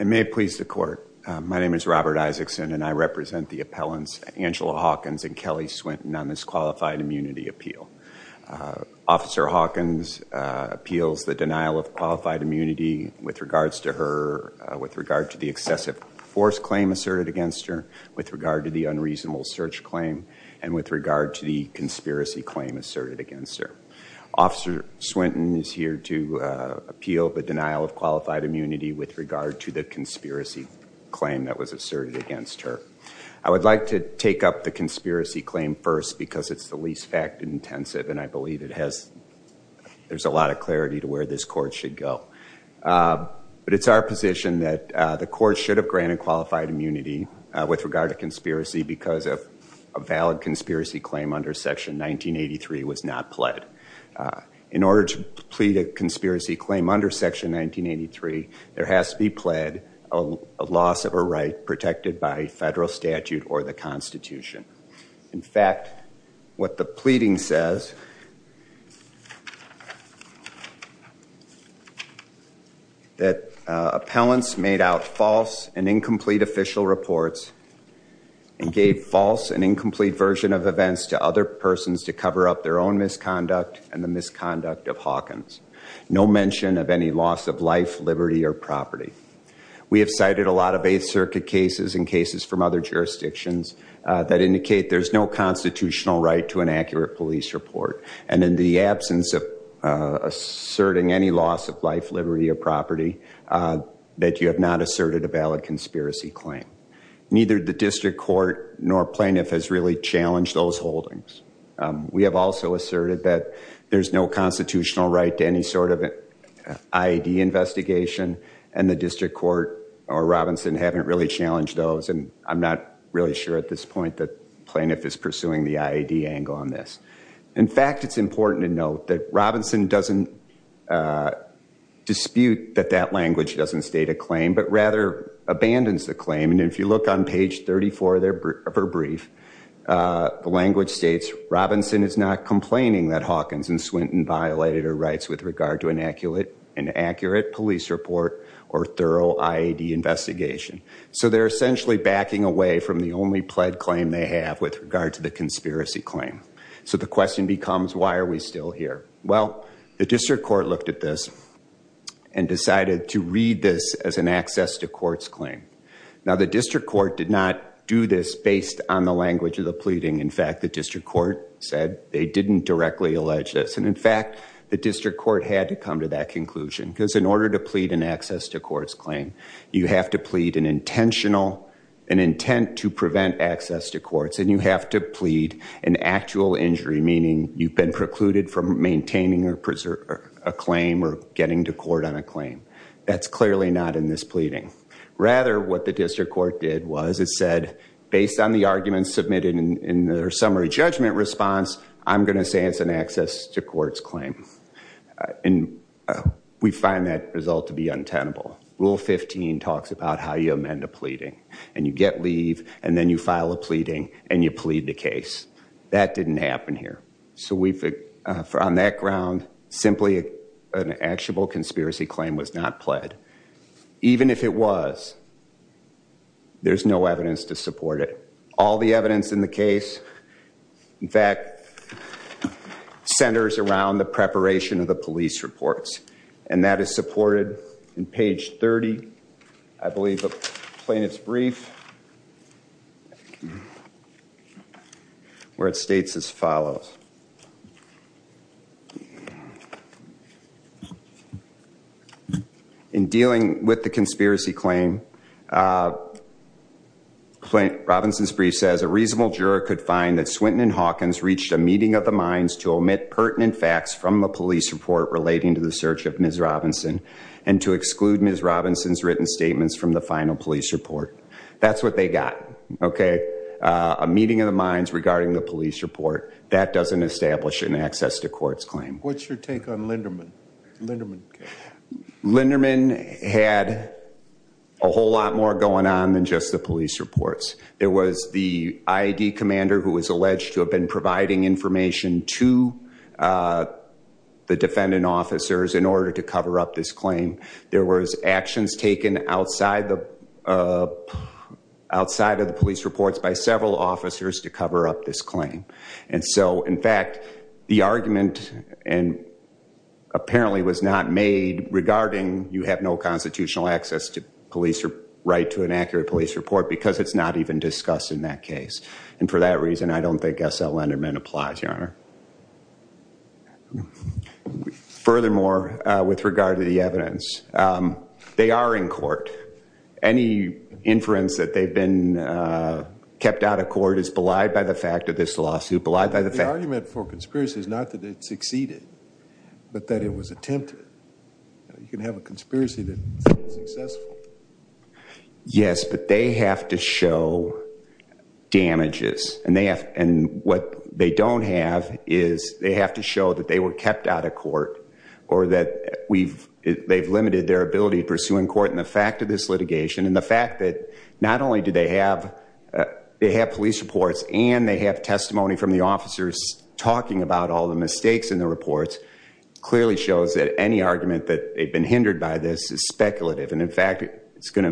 May it please the court. My name is Robert Isaacson and I represent the appellants Angela Hawkins and Kelly Swinton on this qualified immunity appeal. Officer Hawkins appeals the denial of qualified immunity with regards to her, with regard to the excessive force claim asserted against her, with regard to the unreasonable search claim, and with regard to the conspiracy claim asserted against her. Officer Swinton is here to appeal the denial of qualified immunity with regard to the conspiracy claim that was asserted against her. I would like to take up the conspiracy claim first because it's the least fact intensive and I believe it has, there's a lot of clarity to where this court should go. But it's our position that the court should have granted qualified immunity with regard to conspiracy because of a valid conspiracy claim under section 1983 was not pled. In order to plead a conspiracy claim under section 1983 there has to be pled a loss of a right protected by federal statute or the constitution. In fact what the pleading says that appellants made out false and incomplete official reports and gave false and incomplete version of events to other persons to cover up their own misconduct and the misconduct of Hawkins. No mention of any loss of life, liberty, or property. We have cited a lot of 8th Circuit cases and cases from other jurisdictions that indicate there's no constitutional right to an accurate police report. And in the absence of asserting any loss of life, liberty, or property, that you have not asserted a valid conspiracy claim. Neither the district court nor plaintiff has really challenged those holdings. We have also asserted that there's no constitutional right to any sort of IED investigation and the district court or Robinson haven't really challenged those and I'm not really sure at this point that there's an IED angle on this. In fact it's important to note that Robinson doesn't dispute that that language doesn't state a claim but rather abandons the claim and if you look on page 34 of her brief, the language states Robinson is not complaining that Hawkins and Swinton violated her rights with regard to an accurate police report or thorough IED investigation. So they're essentially backing away from the only pled claim they have with regard to the conspiracy claim. So the question becomes why are we still here? Well the district court looked at this and decided to read this as an access to courts claim. Now the district court did not do this based on the language of the pleading. In fact the district court said they didn't directly allege this and in fact the district court had to come to that conclusion because in order to plead an access to courts claim you have to plead an intentional, an intent to prevent access to courts and you have to plead an actual injury meaning you've been precluded from maintaining or preserving a claim or getting to court on a claim. That's clearly not in this pleading. Rather what the district court did was it said based on the arguments submitted in their summary judgment response I'm going to say it's an access to courts claim. And we find that result to be untenable. Rule 15 talks about how you amend a pleading and you get leave and then you file a pleading and you plead the case. That didn't happen here. So we've on that ground simply an actual conspiracy claim was not pled. Even if it was there's no evidence to support it. All the evidence in the case in fact centers around the preparation of the police reports and that is supported in page 30 I believe of plaintiff's brief where it states as follows. In dealing with the conspiracy claim Robinson's brief says a reasonable juror could find that Swinton and Hawkins reached a meeting of the minds to omit pertinent facts from the police report relating to the search of Ms. Robinson and to exclude Ms. Robinson's written statements from the final police report. That's what they got. Okay. A meeting of the minds regarding the police report that doesn't establish an access to courts claim. What's your take on Linderman? Linderman had a whole lot more going on than just the police reports. There was the IED commander who was alleged to have been providing information to the defendant officers in order to cover up this claim. There was actions taken outside of the police reports by several officers to cover up this claim. And so in fact the argument and apparently was not made regarding you have no constitutional access to police or right to an accurate police report because it's not even discussed in that case. And for that reason I don't think S.L. Linderman applies, Your Honor. Furthermore, with regard to the evidence, they are in court. Any inference that they've been kept out of court is belied by the fact of this lawsuit, belied by the fact. The argument for conspiracy is not that it succeeded, but that it was attempted. You can have a conspiracy that's successful. Yes, but they have to show damages. And what they don't have is they have to show that they were kept out of court or that they've limited their ability pursuing court. And the fact of this litigation and the fact that not only do they have police reports and they have testimony from the officers talking about all the mistakes in the reports clearly shows that any argument that they've been hindered by this is speculative. And in fact, it's not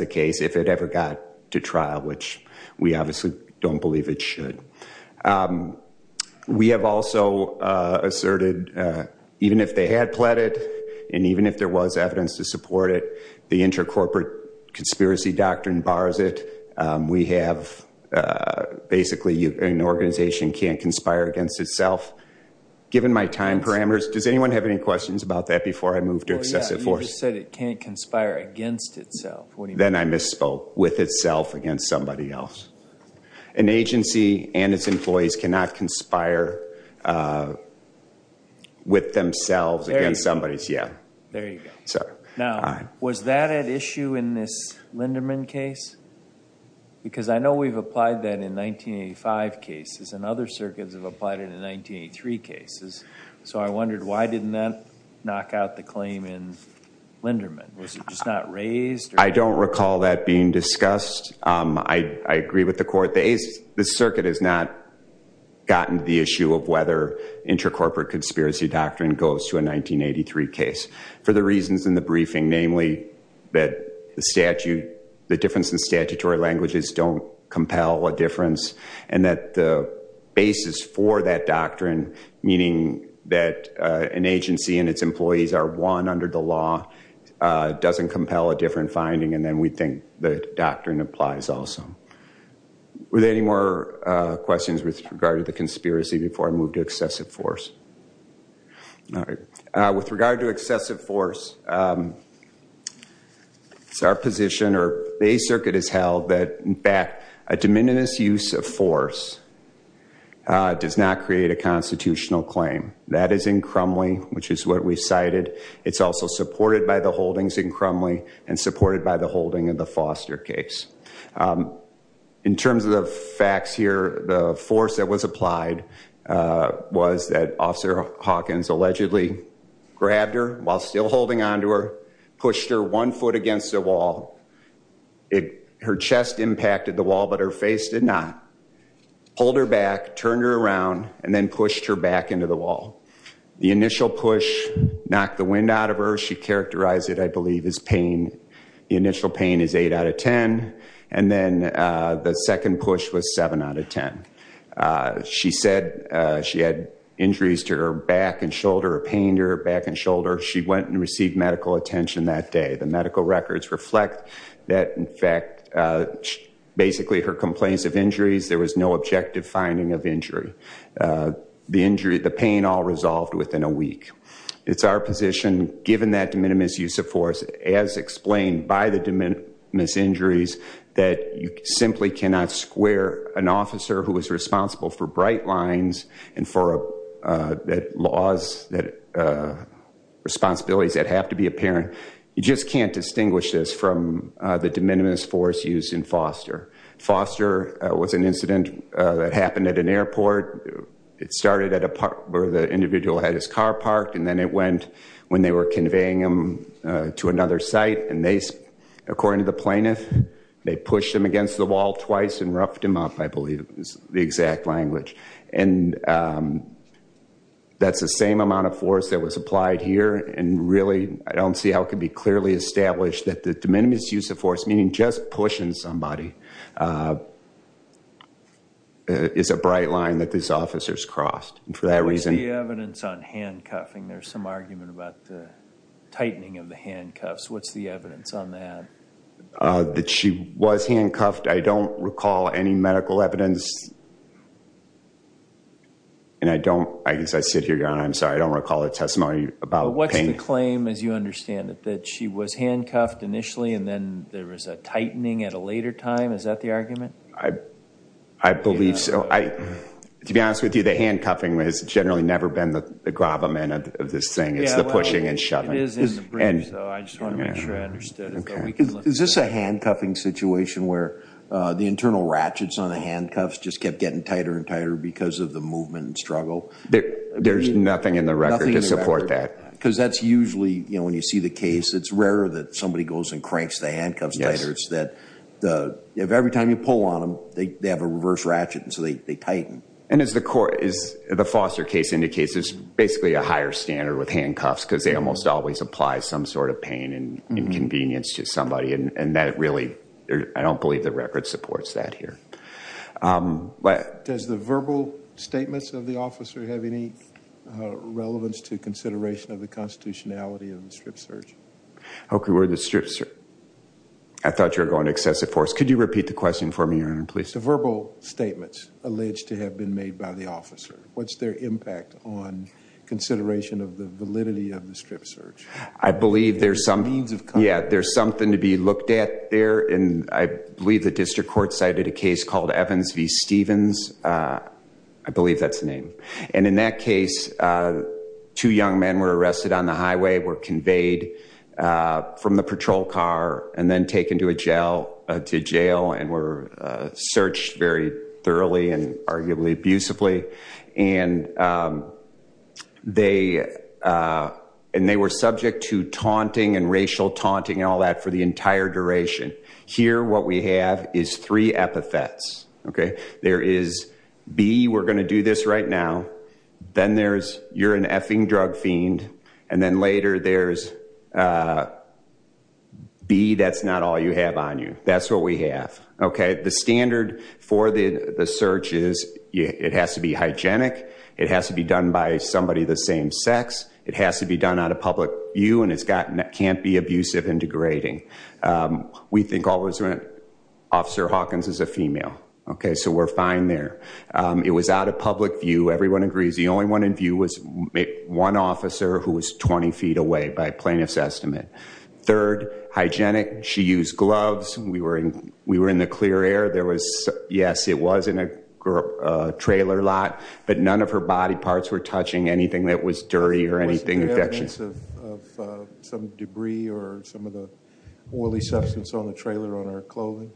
a case if it ever got to trial, which we obviously don't believe it should. We have also asserted even if they had pled it and even if there was evidence to support it, the intercorporate conspiracy doctrine bars it. We have basically an organization can't conspire against itself. Given my time parameters, does anyone have any questions about that before I move to excessive force? You just said it can't conspire against itself. Then I misspoke. With itself against somebody else. An agency and its employees cannot conspire with themselves against somebody else. There you go. Now, was that an issue in this Linderman case? Because I know we've applied that in 1985 cases and other circuits have applied it in 1983 cases. So I wondered why didn't that knock out the claim in Linderman? Was it just not raised? I don't recall that being discussed. I agree with the court. The circuit has not gotten to the issue of whether intercorporate conspiracy doctrine goes to a 1983 case for the reasons in the briefing, namely that the statute, the difference in statutory languages don't compel a difference and that the basis for that doctrine, meaning that an agency and its employees are one under the law, doesn't compel a different finding and then we think the doctrine applies also. Were there any more questions with regard to the conspiracy before I move to excessive force? With regard to excessive force, it's our position or the A circuit has held that, in fact, a de minimis use of force does not create a constitutional claim. That is in Crumley, which is what we cited. It's also supported by the holdings in Crumley and supported by the holding of the Foster case. In terms of the facts here, the force that was applied was that Officer Hawkins allegedly grabbed her while still holding on to her, pushed her one her face did not, pulled her back, turned her around and then pushed her back into the wall. The initial push knocked the wind out of her. She characterized it, I believe, as pain. The initial pain is 8 out of 10 and then the second push was 7 out of 10. She said she had injuries to her back and shoulder, a pain to her back and shoulder. She went and received medical attention that day. The medical records reflect that, in fact, basically her complaints of injuries, there was no objective finding of injury. The injury, the pain all resolved within a week. It's our position, given that de minimis use of force, as explained by the de minimis injuries, that you simply cannot square an officer who was responsible for bright lines and for laws, responsibilities that have to be apparent. You just can't distinguish this from the de minimis force used in Foster. Foster was an incident that happened at an airport. It started at a part where the individual had his car parked and then it went when they were conveying him to another site and they, according to the plaintiff, they pushed him against the wall twice and roughed him up, I believe is the exact language. And that's the same amount of force that was applied here and really, I don't see how it could be clearly established that the de minimis use of force, meaning just pushing somebody, is a bright line that this officer's crossed and for that reason. What's the evidence on handcuffing? There's some argument about the tightening of the handcuffs. What's the evidence on that? That she was handcuffed. I don't recall any medical evidence. And I don't, as I sit here, I'm sorry, I don't recall a testimony about pain. What's the claim, as you understand it, that she was handcuffed initially and then there was a tightening at a later time? Is that the argument? I believe so. To be honest with you, the handcuffing has generally never been the gravamen of this thing. It's the pushing and shoving. It is in the briefs, I just want to make sure I understood. Is this a handcuffing situation where the internal ratchets on the handcuffs just kept getting tighter and tighter because of the movement and struggle? There's nothing in the record to support that. Because that's usually, when you see the case, it's rarer that somebody goes and cranks the handcuffs tighter. It's that every time you pull on them, they have a reverse ratchet and so they tighten. And as the foster case indicates, it's basically a higher standard with handcuffs because they always apply some sort of pain and inconvenience to somebody. I don't believe the record supports that here. Does the verbal statements of the officer have any relevance to consideration of the constitutionality of the strip search? I thought you were going to excessive force. Could you repeat the question for me, Your Honor, please? The verbal statements alleged to have made by the officer, what's their impact on consideration of the validity of the strip search? I believe there's something to be looked at there. I believe the district court cited a case called Evans v. Stevens. I believe that's the name. And in that case, two young men were arrested on the highway, were conveyed from the patrol car and then taken to jail and were searched very thoroughly and arguably abusively. And they were subject to taunting and racial taunting and all that for the entire duration. Here, what we have is three epithets. There is B, we're going to do this right now. Then there's you're an effing drug fiend. And then later there's B, that's not all you have on you. That's what we have. The standard for the search is it has to be hygienic. It has to be done by somebody the same sex. It has to be done out of public view. And it can't be abusive and degrading. We think Officer Hawkins is a female. So we're fine there. It was out of public view. Everyone agrees. The only one in view was one officer who was 20 feet away by plaintiff's third hygienic. She used gloves. We were in the clear air. Yes, it was in a trailer lot, but none of her body parts were touching anything that was dirty or anything. Was there evidence of some debris or some of the oily substance on the trailer on her clothing?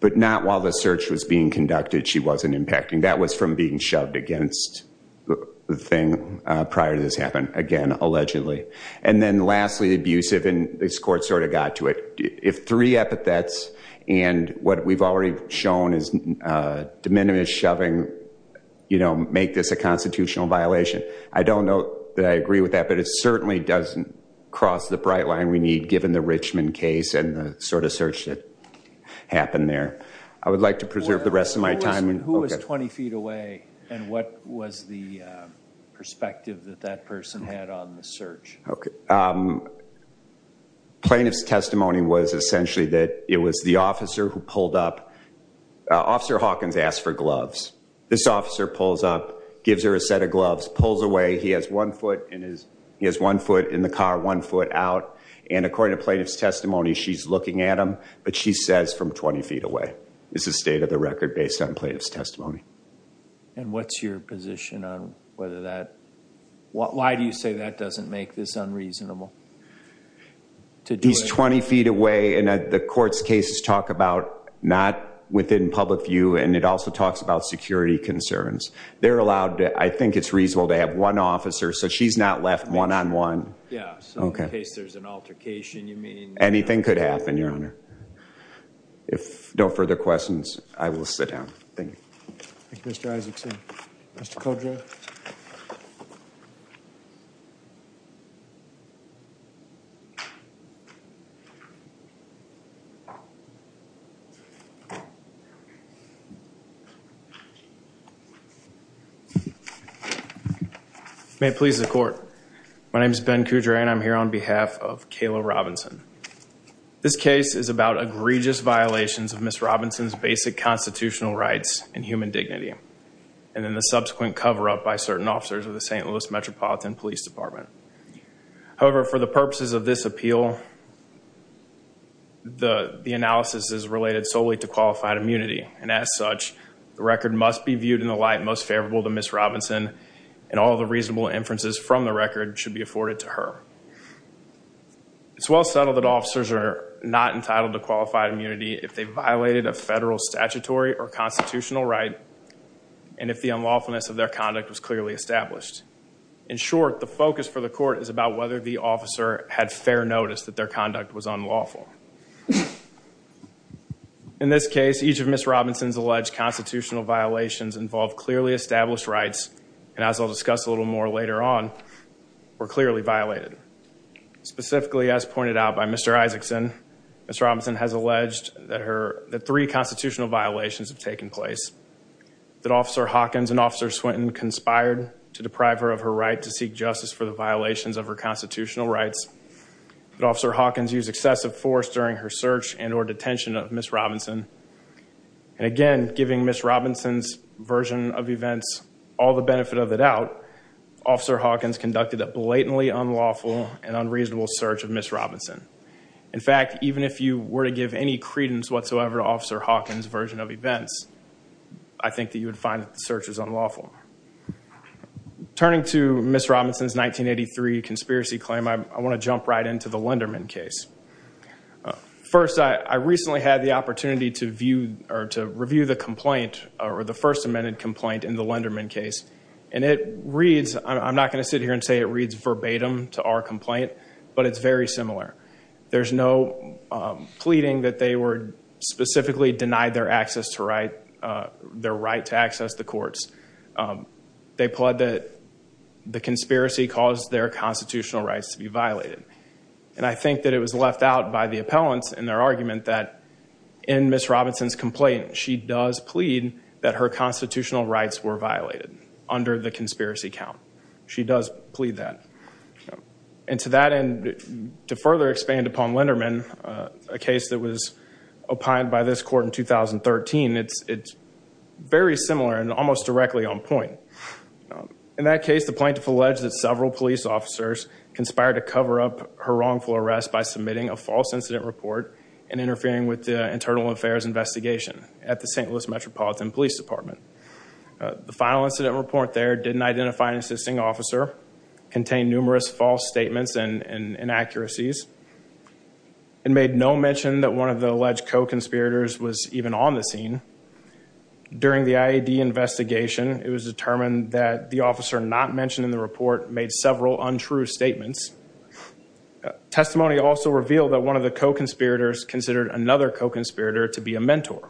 But not while the search was being conducted. She wasn't impacting. That was from being shoved against the thing prior to this happen again, allegedly. And then lastly, abusive. And this court sort of got to it. If three epithets and what we've already shown is de minimis shoving, you know, make this a constitutional violation. I don't know that I agree with that, but it certainly doesn't cross the bright line we need given the Richmond case and the sort of search that happened there. I would like to preserve the rest of my time. Who was 20 feet away and what was the perspective that that person had on the search? Plaintiff's testimony was essentially that it was the officer who pulled up. Officer Hawkins asked for gloves. This officer pulls up, gives her a set of gloves, pulls away. He has one foot in the car, one foot out. And according to plaintiff's testimony, she's not looking at him, but she says from 20 feet away is the state of the record based on plaintiff's testimony. And what's your position on whether that, why do you say that doesn't make this unreasonable? He's 20 feet away and the court's cases talk about not within public view and it also talks about security concerns. They're allowed, I think it's reasonable to have one officer, so she's not one-on-one. Yeah, so in case there's an altercation, you mean? Anything could happen, Your Honor. If no further questions, I will sit down. Thank you. Thank you, Mr. Isaacson. Mr. Caldwell. Thank you. May it please the court. My name is Ben Coudray and I'm here on behalf of Kayla Robinson. This case is about egregious violations of Ms. Robinson's basic constitutional rights and human dignity and then the subsequent cover-up by certain officers of the St. Louis Metropolitan Police Department. However, for the purposes of this appeal, the analysis is related solely to qualified immunity and as such, the record must be viewed in the light most favorable to Ms. Robinson and all the reasonable inferences from the record should be afforded to her. It's well settled that officers are not entitled to qualified immunity if they've violated a federal statutory or constitutional right and if the unlawfulness of their conduct was clearly established. In short, the focus for the court is about whether the officer had fair notice that their conduct was unlawful. In this case, each of Ms. Robinson's alleged constitutional violations involved clearly established rights and as I'll discuss a little more later on, were clearly violated. Specifically, as pointed out by Mr. Isaacson, Ms. Robinson has alleged that her, that three constitutional violations have taken place, that Officer Hawkins and Officer Swinton conspired to deprive her of her right to seek justice for the violations of her constitutional rights, that Officer Hawkins used excessive force during her search and or detention of Ms. Robinson and again, giving Ms. Robinson's version of events all the benefit of the doubt, Officer Hawkins conducted a blatantly unlawful and unreasonable search of Ms. Robinson. In fact, even if you were to give any credence whatsoever to Officer Hawkins' version of events, I think that you would find that the search was unlawful. Turning to Ms. Robinson's 1983 conspiracy claim, I want to jump right into the Lenderman case. First, I recently had the opportunity to view or to review the complaint or the first amended complaint in the Lenderman case and it reads, I'm not going to sit here and that they were specifically denied their access to right, their right to access the courts. They pled that the conspiracy caused their constitutional rights to be violated and I think that it was left out by the appellants in their argument that in Ms. Robinson's complaint, she does plead that her constitutional rights were violated under the conspiracy count. She does plead that and to that end, to further expand upon Lenderman, a case that was opined by this court in 2013, it's very similar and almost directly on point. In that case, the plaintiff alleged that several police officers conspired to cover up her wrongful arrest by submitting a false incident report and interfering with the internal affairs investigation at the St. Louis Metropolitan Police Department. The final incident report there didn't identify an assisting officer, contained numerous false statements and inaccuracies. It made no mention that one of the alleged co-conspirators was even on the scene. During the IAD investigation, it was determined that the officer not mentioned in the report made several untrue statements. Testimony also revealed that one of the co-conspirators considered another co-conspirator to be a mentor.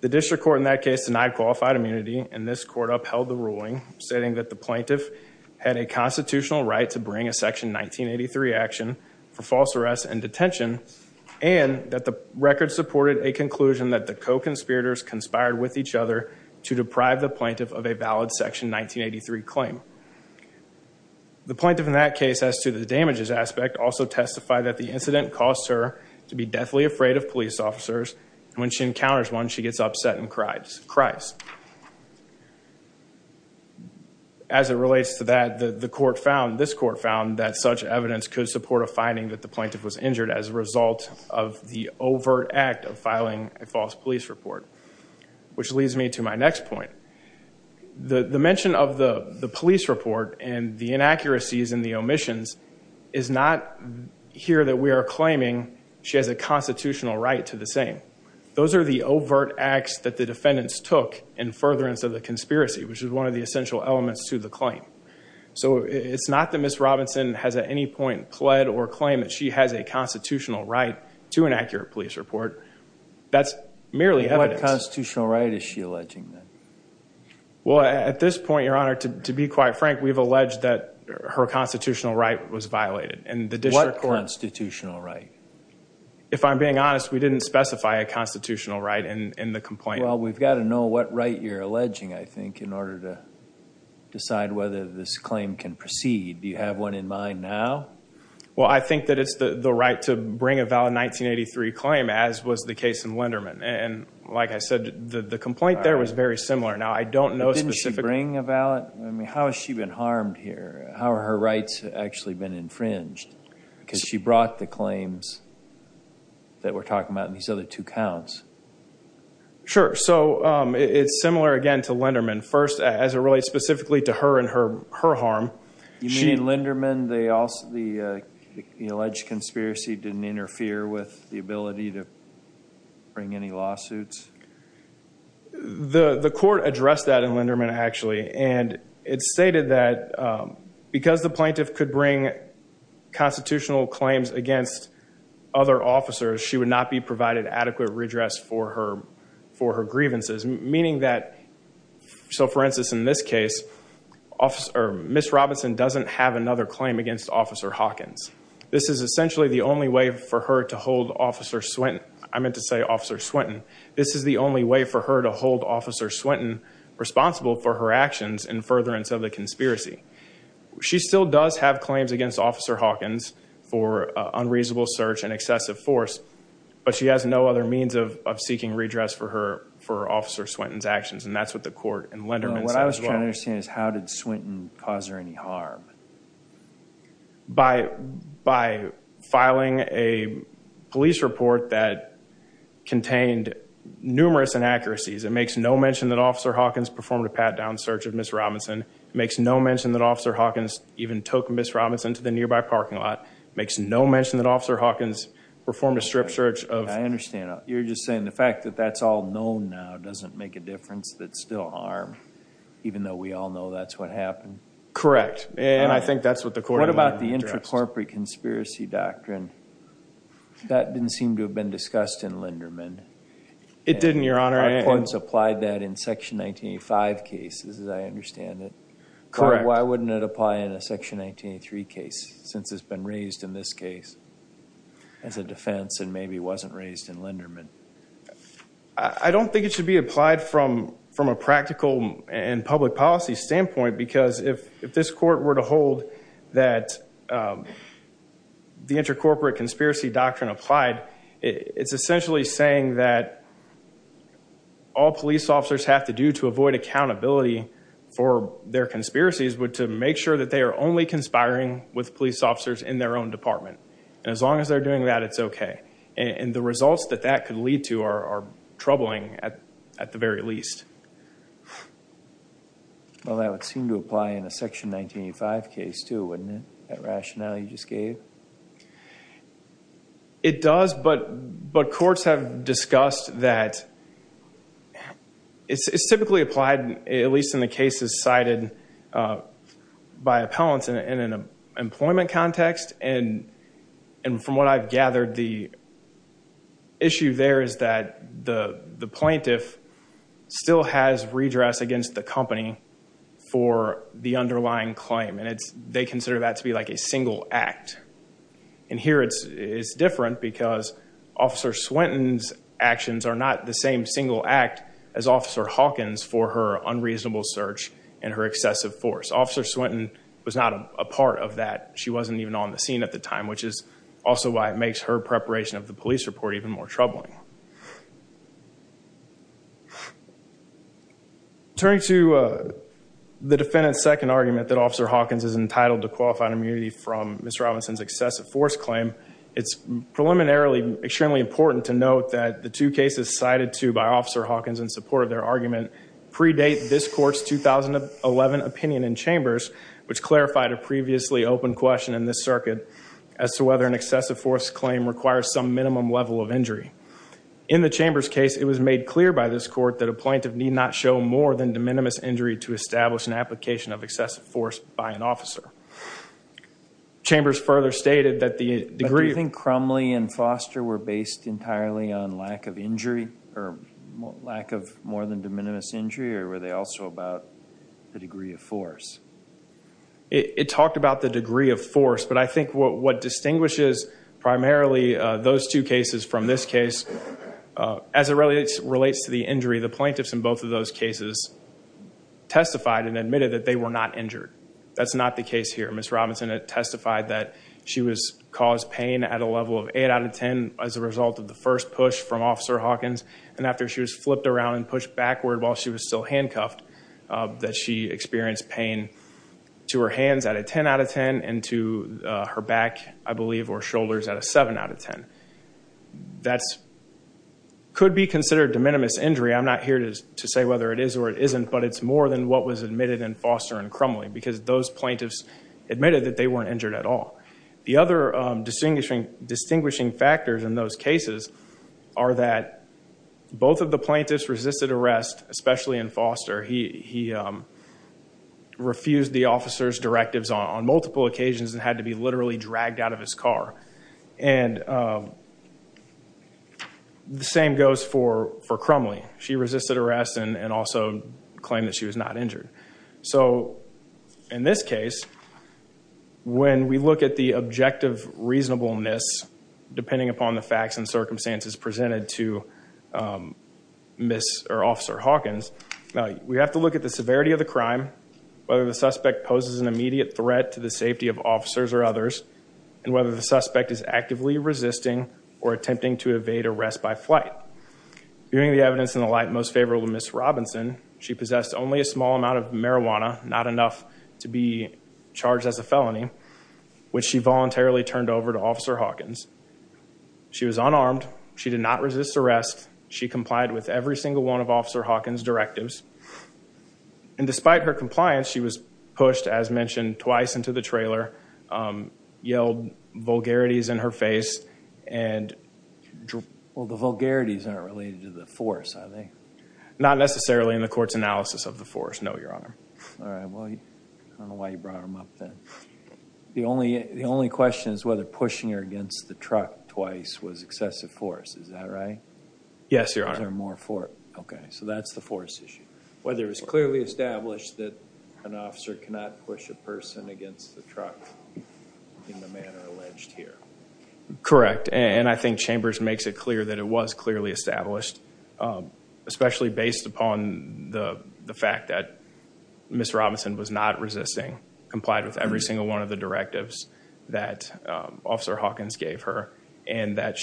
The district court in that case denied qualified immunity and this court upheld the ruling, stating that the plaintiff had a constitutional right to bring a section 1983 action for false arrest and detention and that the record supported a conclusion that the co-conspirators conspired with each other to deprive the plaintiff of a valid section 1983 claim. The plaintiff in that case as to the damages aspect also testified that the incident caused her to be deathly afraid of police officers and when she encounters one, she gets upset and cries. As it relates to that, the court found, this court found that such evidence could support a finding that the plaintiff was injured as a result of the overt act of filing a false police report, which leads me to my next point. The mention of the the police report and the inaccuracies and the omissions is not here that we are claiming she has a constitutional right to the same. Those are overt acts that the defendants took in furtherance of the conspiracy, which is one of the essential elements to the claim. So it's not that Ms. Robinson has at any point pled or claim that she has a constitutional right to an accurate police report. That's merely evidence. What constitutional right is she alleging then? Well, at this point, your honor, to be quite frank, we've alleged that her constitutional right was violated. What constitutional right? If I'm being honest, we didn't specify a constitutional right in the complaint. Well, we've got to know what right you're alleging, I think, in order to decide whether this claim can proceed. Do you have one in mind now? Well, I think that it's the right to bring a valid 1983 claim, as was the case in Linderman. And like I said, the complaint there was very similar. Now, I don't know. Didn't she bring a valid? I mean, how has she been harmed here? How have her rights actually been infringed? Because she brought the claims that we're talking about in these other two counts. Sure. So it's similar, again, to Linderman. First, as it relates specifically to her and her harm. You mean Linderman, the alleged conspiracy didn't interfere with the ability to bring any lawsuits? The court addressed that in Linderman, actually. And it's stated that because the plaintiff could bring constitutional claims against other officers, she would not be provided adequate redress for her grievances. Meaning that, so for instance, in this case, Miss Robinson doesn't have another claim against Officer Hawkins. This is essentially the only way for her to hold Officer Swinton. This is the only way for her to hold Officer Swinton responsible for her actions in furtherance of the conspiracy. She still does have claims against Officer Hawkins for unreasonable search and excessive force, but she has no other means of seeking redress for Officer Swinton's actions. And that's what the court in Linderman said as well. What I was trying to understand is how did Swinton cause her any harm? By filing a police report that contained numerous inaccuracies. It makes no mention that Officer Hawkins performed a pat-down search of Miss Robinson. It makes no mention that Officer Hawkins even took Miss Robinson to the nearby parking lot. It makes no mention that Officer Hawkins performed a strip search of- I understand. You're just saying the fact that that's all known now doesn't make a difference that's still harm, even though we all know that's what happened? Correct. And I think that's what the court in Linderman addressed. What about the intracorporate conspiracy doctrine? That didn't seem to have been discussed in Linderman. It didn't, Your Honor. And the court has applied that in Section 1985 cases, as I understand it. Correct. Why wouldn't it apply in a Section 1983 case, since it's been raised in this case as a defense and maybe wasn't raised in Linderman? I don't think it should be applied from a practical and public policy standpoint, because if this court were to hold that the intracorporate conspiracy doctrine applied, it's essentially saying that all police officers have to do to avoid accountability for their conspiracies would to make sure that they are only conspiring with police officers in their own department. And as long as they're doing that, it's okay. And the results that that could lead to are troubling at the very least. Well, that would seem to apply in a Section 1985 case, too, wouldn't it? That rationale you just gave? It does, but courts have discussed that it's typically applied, at least in the cases cited by appellants in an employment context. And from what I've gathered, the issue there is that the plaintiff still has redress against the company for the underlying claim, and they consider that to be like a single act. And here it's different because Officer Swinton's actions are not the same single act as Officer Hawkins for her unreasonable search and her excessive force. Officer Swinton was not a part of that. She wasn't even on the scene at the time, which is also why it makes her preparation of the police report even more troubling. Turning to the defendant's second argument that Officer Hawkins is entitled to qualified immunity from Ms. Robinson's excessive force claim, it's preliminarily extremely important to note that the two cases cited to by Officer Hawkins in support of their argument predate this court's 2011 opinion in Chambers, which clarified a previously open question in this circuit as to whether an excessive force claim requires some minimum level of injury. In the Chambers case, it was made clear by this court that a plaintiff need not show more than de minimis injury to establish an application of excessive force by an officer. Chambers further stated that the degree... Do you think Crumley and Foster were based entirely on lack of injury, or lack of more than de minimis injury, or were they also about the degree of force? It talked about the degree of force, but I think what distinguishes primarily those two cases from this case, as it relates to the injury, the plaintiffs in both of those cases testified and admitted that they were not injured. That's not the case here. Ms. Robinson testified that she was caused pain at a level of 8 out of 10 as a result of the first push from Officer Hawkins, and after she was flipped around and pushed backward while she was still handcuffed, that she experienced pain to her hands at a 10 out of 10, and to her back, I believe, or shoulders at a 7 out of 10. That could be considered de minimis injury. I'm not here to say whether it is or it isn't, but it's more than what was admitted in Foster and Crumley, because those plaintiffs admitted that they weren't injured at all. The other distinguishing factors in those cases are that both of the plaintiffs resisted arrest, especially in Foster. He refused the officer's directives on multiple occasions and had to be dragged out of his car. The same goes for Crumley. She resisted arrest and also claimed that she was not injured. In this case, when we look at the objective reasonableness, depending upon the facts and circumstances presented to Officer Hawkins, we have to look at the severity of the crime, whether the suspect poses an immediate threat to the safety of and whether the suspect is actively resisting or attempting to evade arrest by flight. Viewing the evidence in the light most favorable to Ms. Robinson, she possessed only a small amount of marijuana, not enough to be charged as a felony, which she voluntarily turned over to Officer Hawkins. She was unarmed. She did not resist arrest. She complied with every single one of Officer Hawkins' directives. Despite her compliance, she was pushed, as mentioned, twice into the yard, yelled vulgarities in her face, and... Well, the vulgarities aren't related to the force, are they? Not necessarily in the court's analysis of the force, no, Your Honor. All right. Well, I don't know why you brought them up then. The only question is whether pushing her against the truck twice was excessive force. Is that right? Yes, Your Honor. Is there more force? Okay. So that's the force issue. Whether it's clearly established that an officer cannot push a person against the truck in the manner alleged here. Correct. And I think Chambers makes it clear that it was clearly established, especially based upon the fact that Ms. Robinson was not resisting, complied with every single one of the directives that Officer Hawkins gave her, and that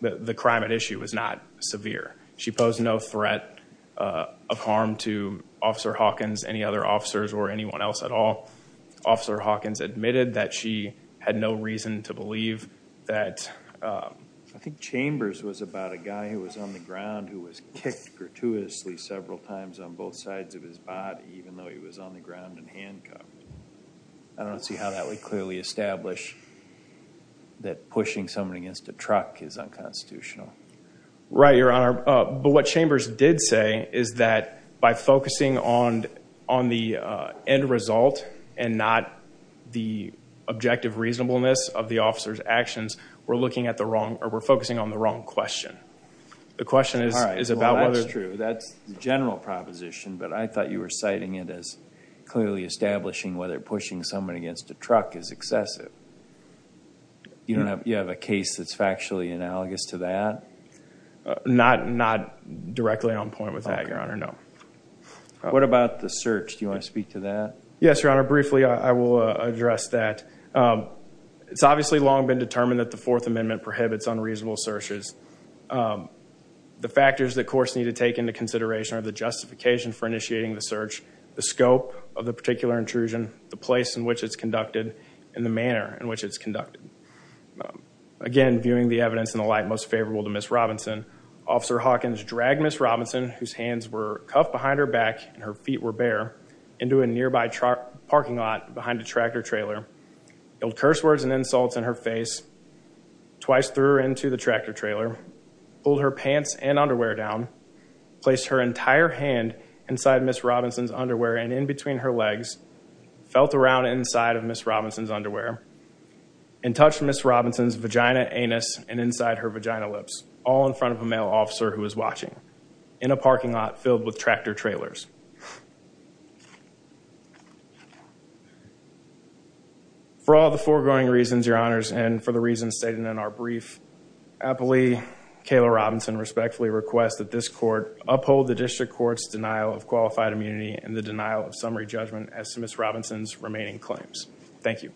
the crime at issue was not severe. She posed no threat of harm to Officer Hawkins, any other officers, or anyone else at all. Officer Hawkins admitted that she had no reason to believe that... I think Chambers was about a guy who was on the ground who was kicked gratuitously several times on both sides of his body, even though he was on the ground and handcuffed. I don't see how that would clearly establish that pushing someone against a truck is unconstitutional. Right, end result and not the objective reasonableness of the officer's actions, we're looking at the wrong, or we're focusing on the wrong question. The question is about whether... That's true, that's the general proposition, but I thought you were citing it as clearly establishing whether pushing someone against a truck is excessive. You don't have, you have a case that's factually analogous to that? Not directly on point with that, Your Honor, no. What about the search? Do you want to speak to that? Yes, Your Honor, briefly I will address that. It's obviously long been determined that the Fourth Amendment prohibits unreasonable searches. The factors that courts need to take into consideration are the justification for initiating the search, the scope of the particular intrusion, the place in which it's conducted, and the manner in which it's conducted. Again, viewing the evidence in the light most favorable to Miss Robinson, Officer Hawkins dragged Miss Robinson, whose hands were cuffed behind her back and her feet were bare, into a nearby parking lot behind a tractor trailer, yelled curse words and insults in her face, twice threw her into the tractor trailer, pulled her pants and underwear down, placed her entire hand inside Miss Robinson's underwear and in between her legs, felt around inside of Miss Robinson's underwear, and touched Miss Robinson's vagina, anus, and inside her vagina lips, all in front of a male officer who was watching in a parking lot filled with tractor trailers. For all the foregoing reasons, Your Honors, and for the reasons stated in our brief, I politely, Kayla Robinson respectfully request that this court uphold the district court's denial of qualified immunity and the denial of summary judgment as to Miss Robinson's Thank you,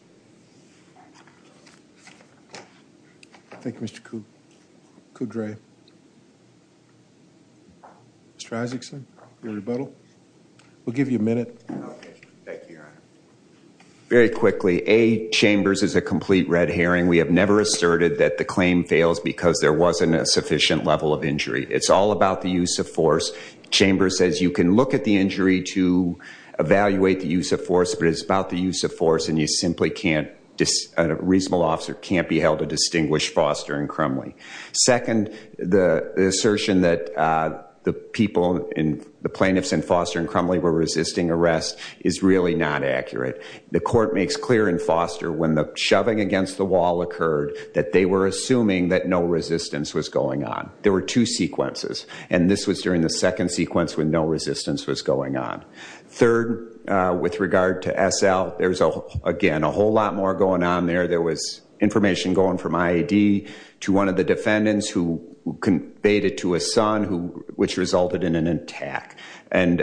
Mr. Coup. Mr. Isaacson, your rebuttal. We'll give you a minute. Very quickly, A, Chambers is a complete red herring. We have never asserted that the claim fails because there wasn't a sufficient level of injury. It's all about the use of force. Chambers says you can look at the injury to evaluate the use of force, but it's about the officer can't be held to distinguish Foster and Crumley. Second, the assertion that the people, the plaintiffs in Foster and Crumley were resisting arrest is really not accurate. The court makes clear in Foster when the shoving against the wall occurred that they were assuming that no resistance was going on. There were two sequences, and this was during the second sequence when no resistance was going on. Third, with regard to SL, there's, again, a whole lot going on there. There was information going from IAD to one of the defendants who conveyed it to a son, which resulted in an attack. And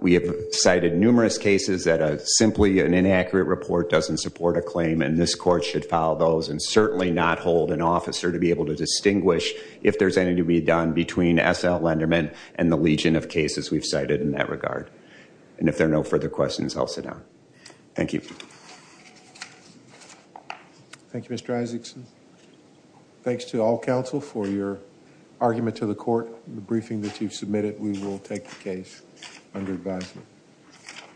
we have cited numerous cases that simply an inaccurate report doesn't support a claim, and this court should follow those and certainly not hold an officer to be able to distinguish if there's anything to be done between SL Lenderman and the legion of cases we've cited in that regard. And if there are no further questions, I'll sit adjourned. Thank you. Thank you, Mr. Isaacson. Thanks to all counsel for your argument to the court. The briefing that you've submitted, we will take the case under advisement.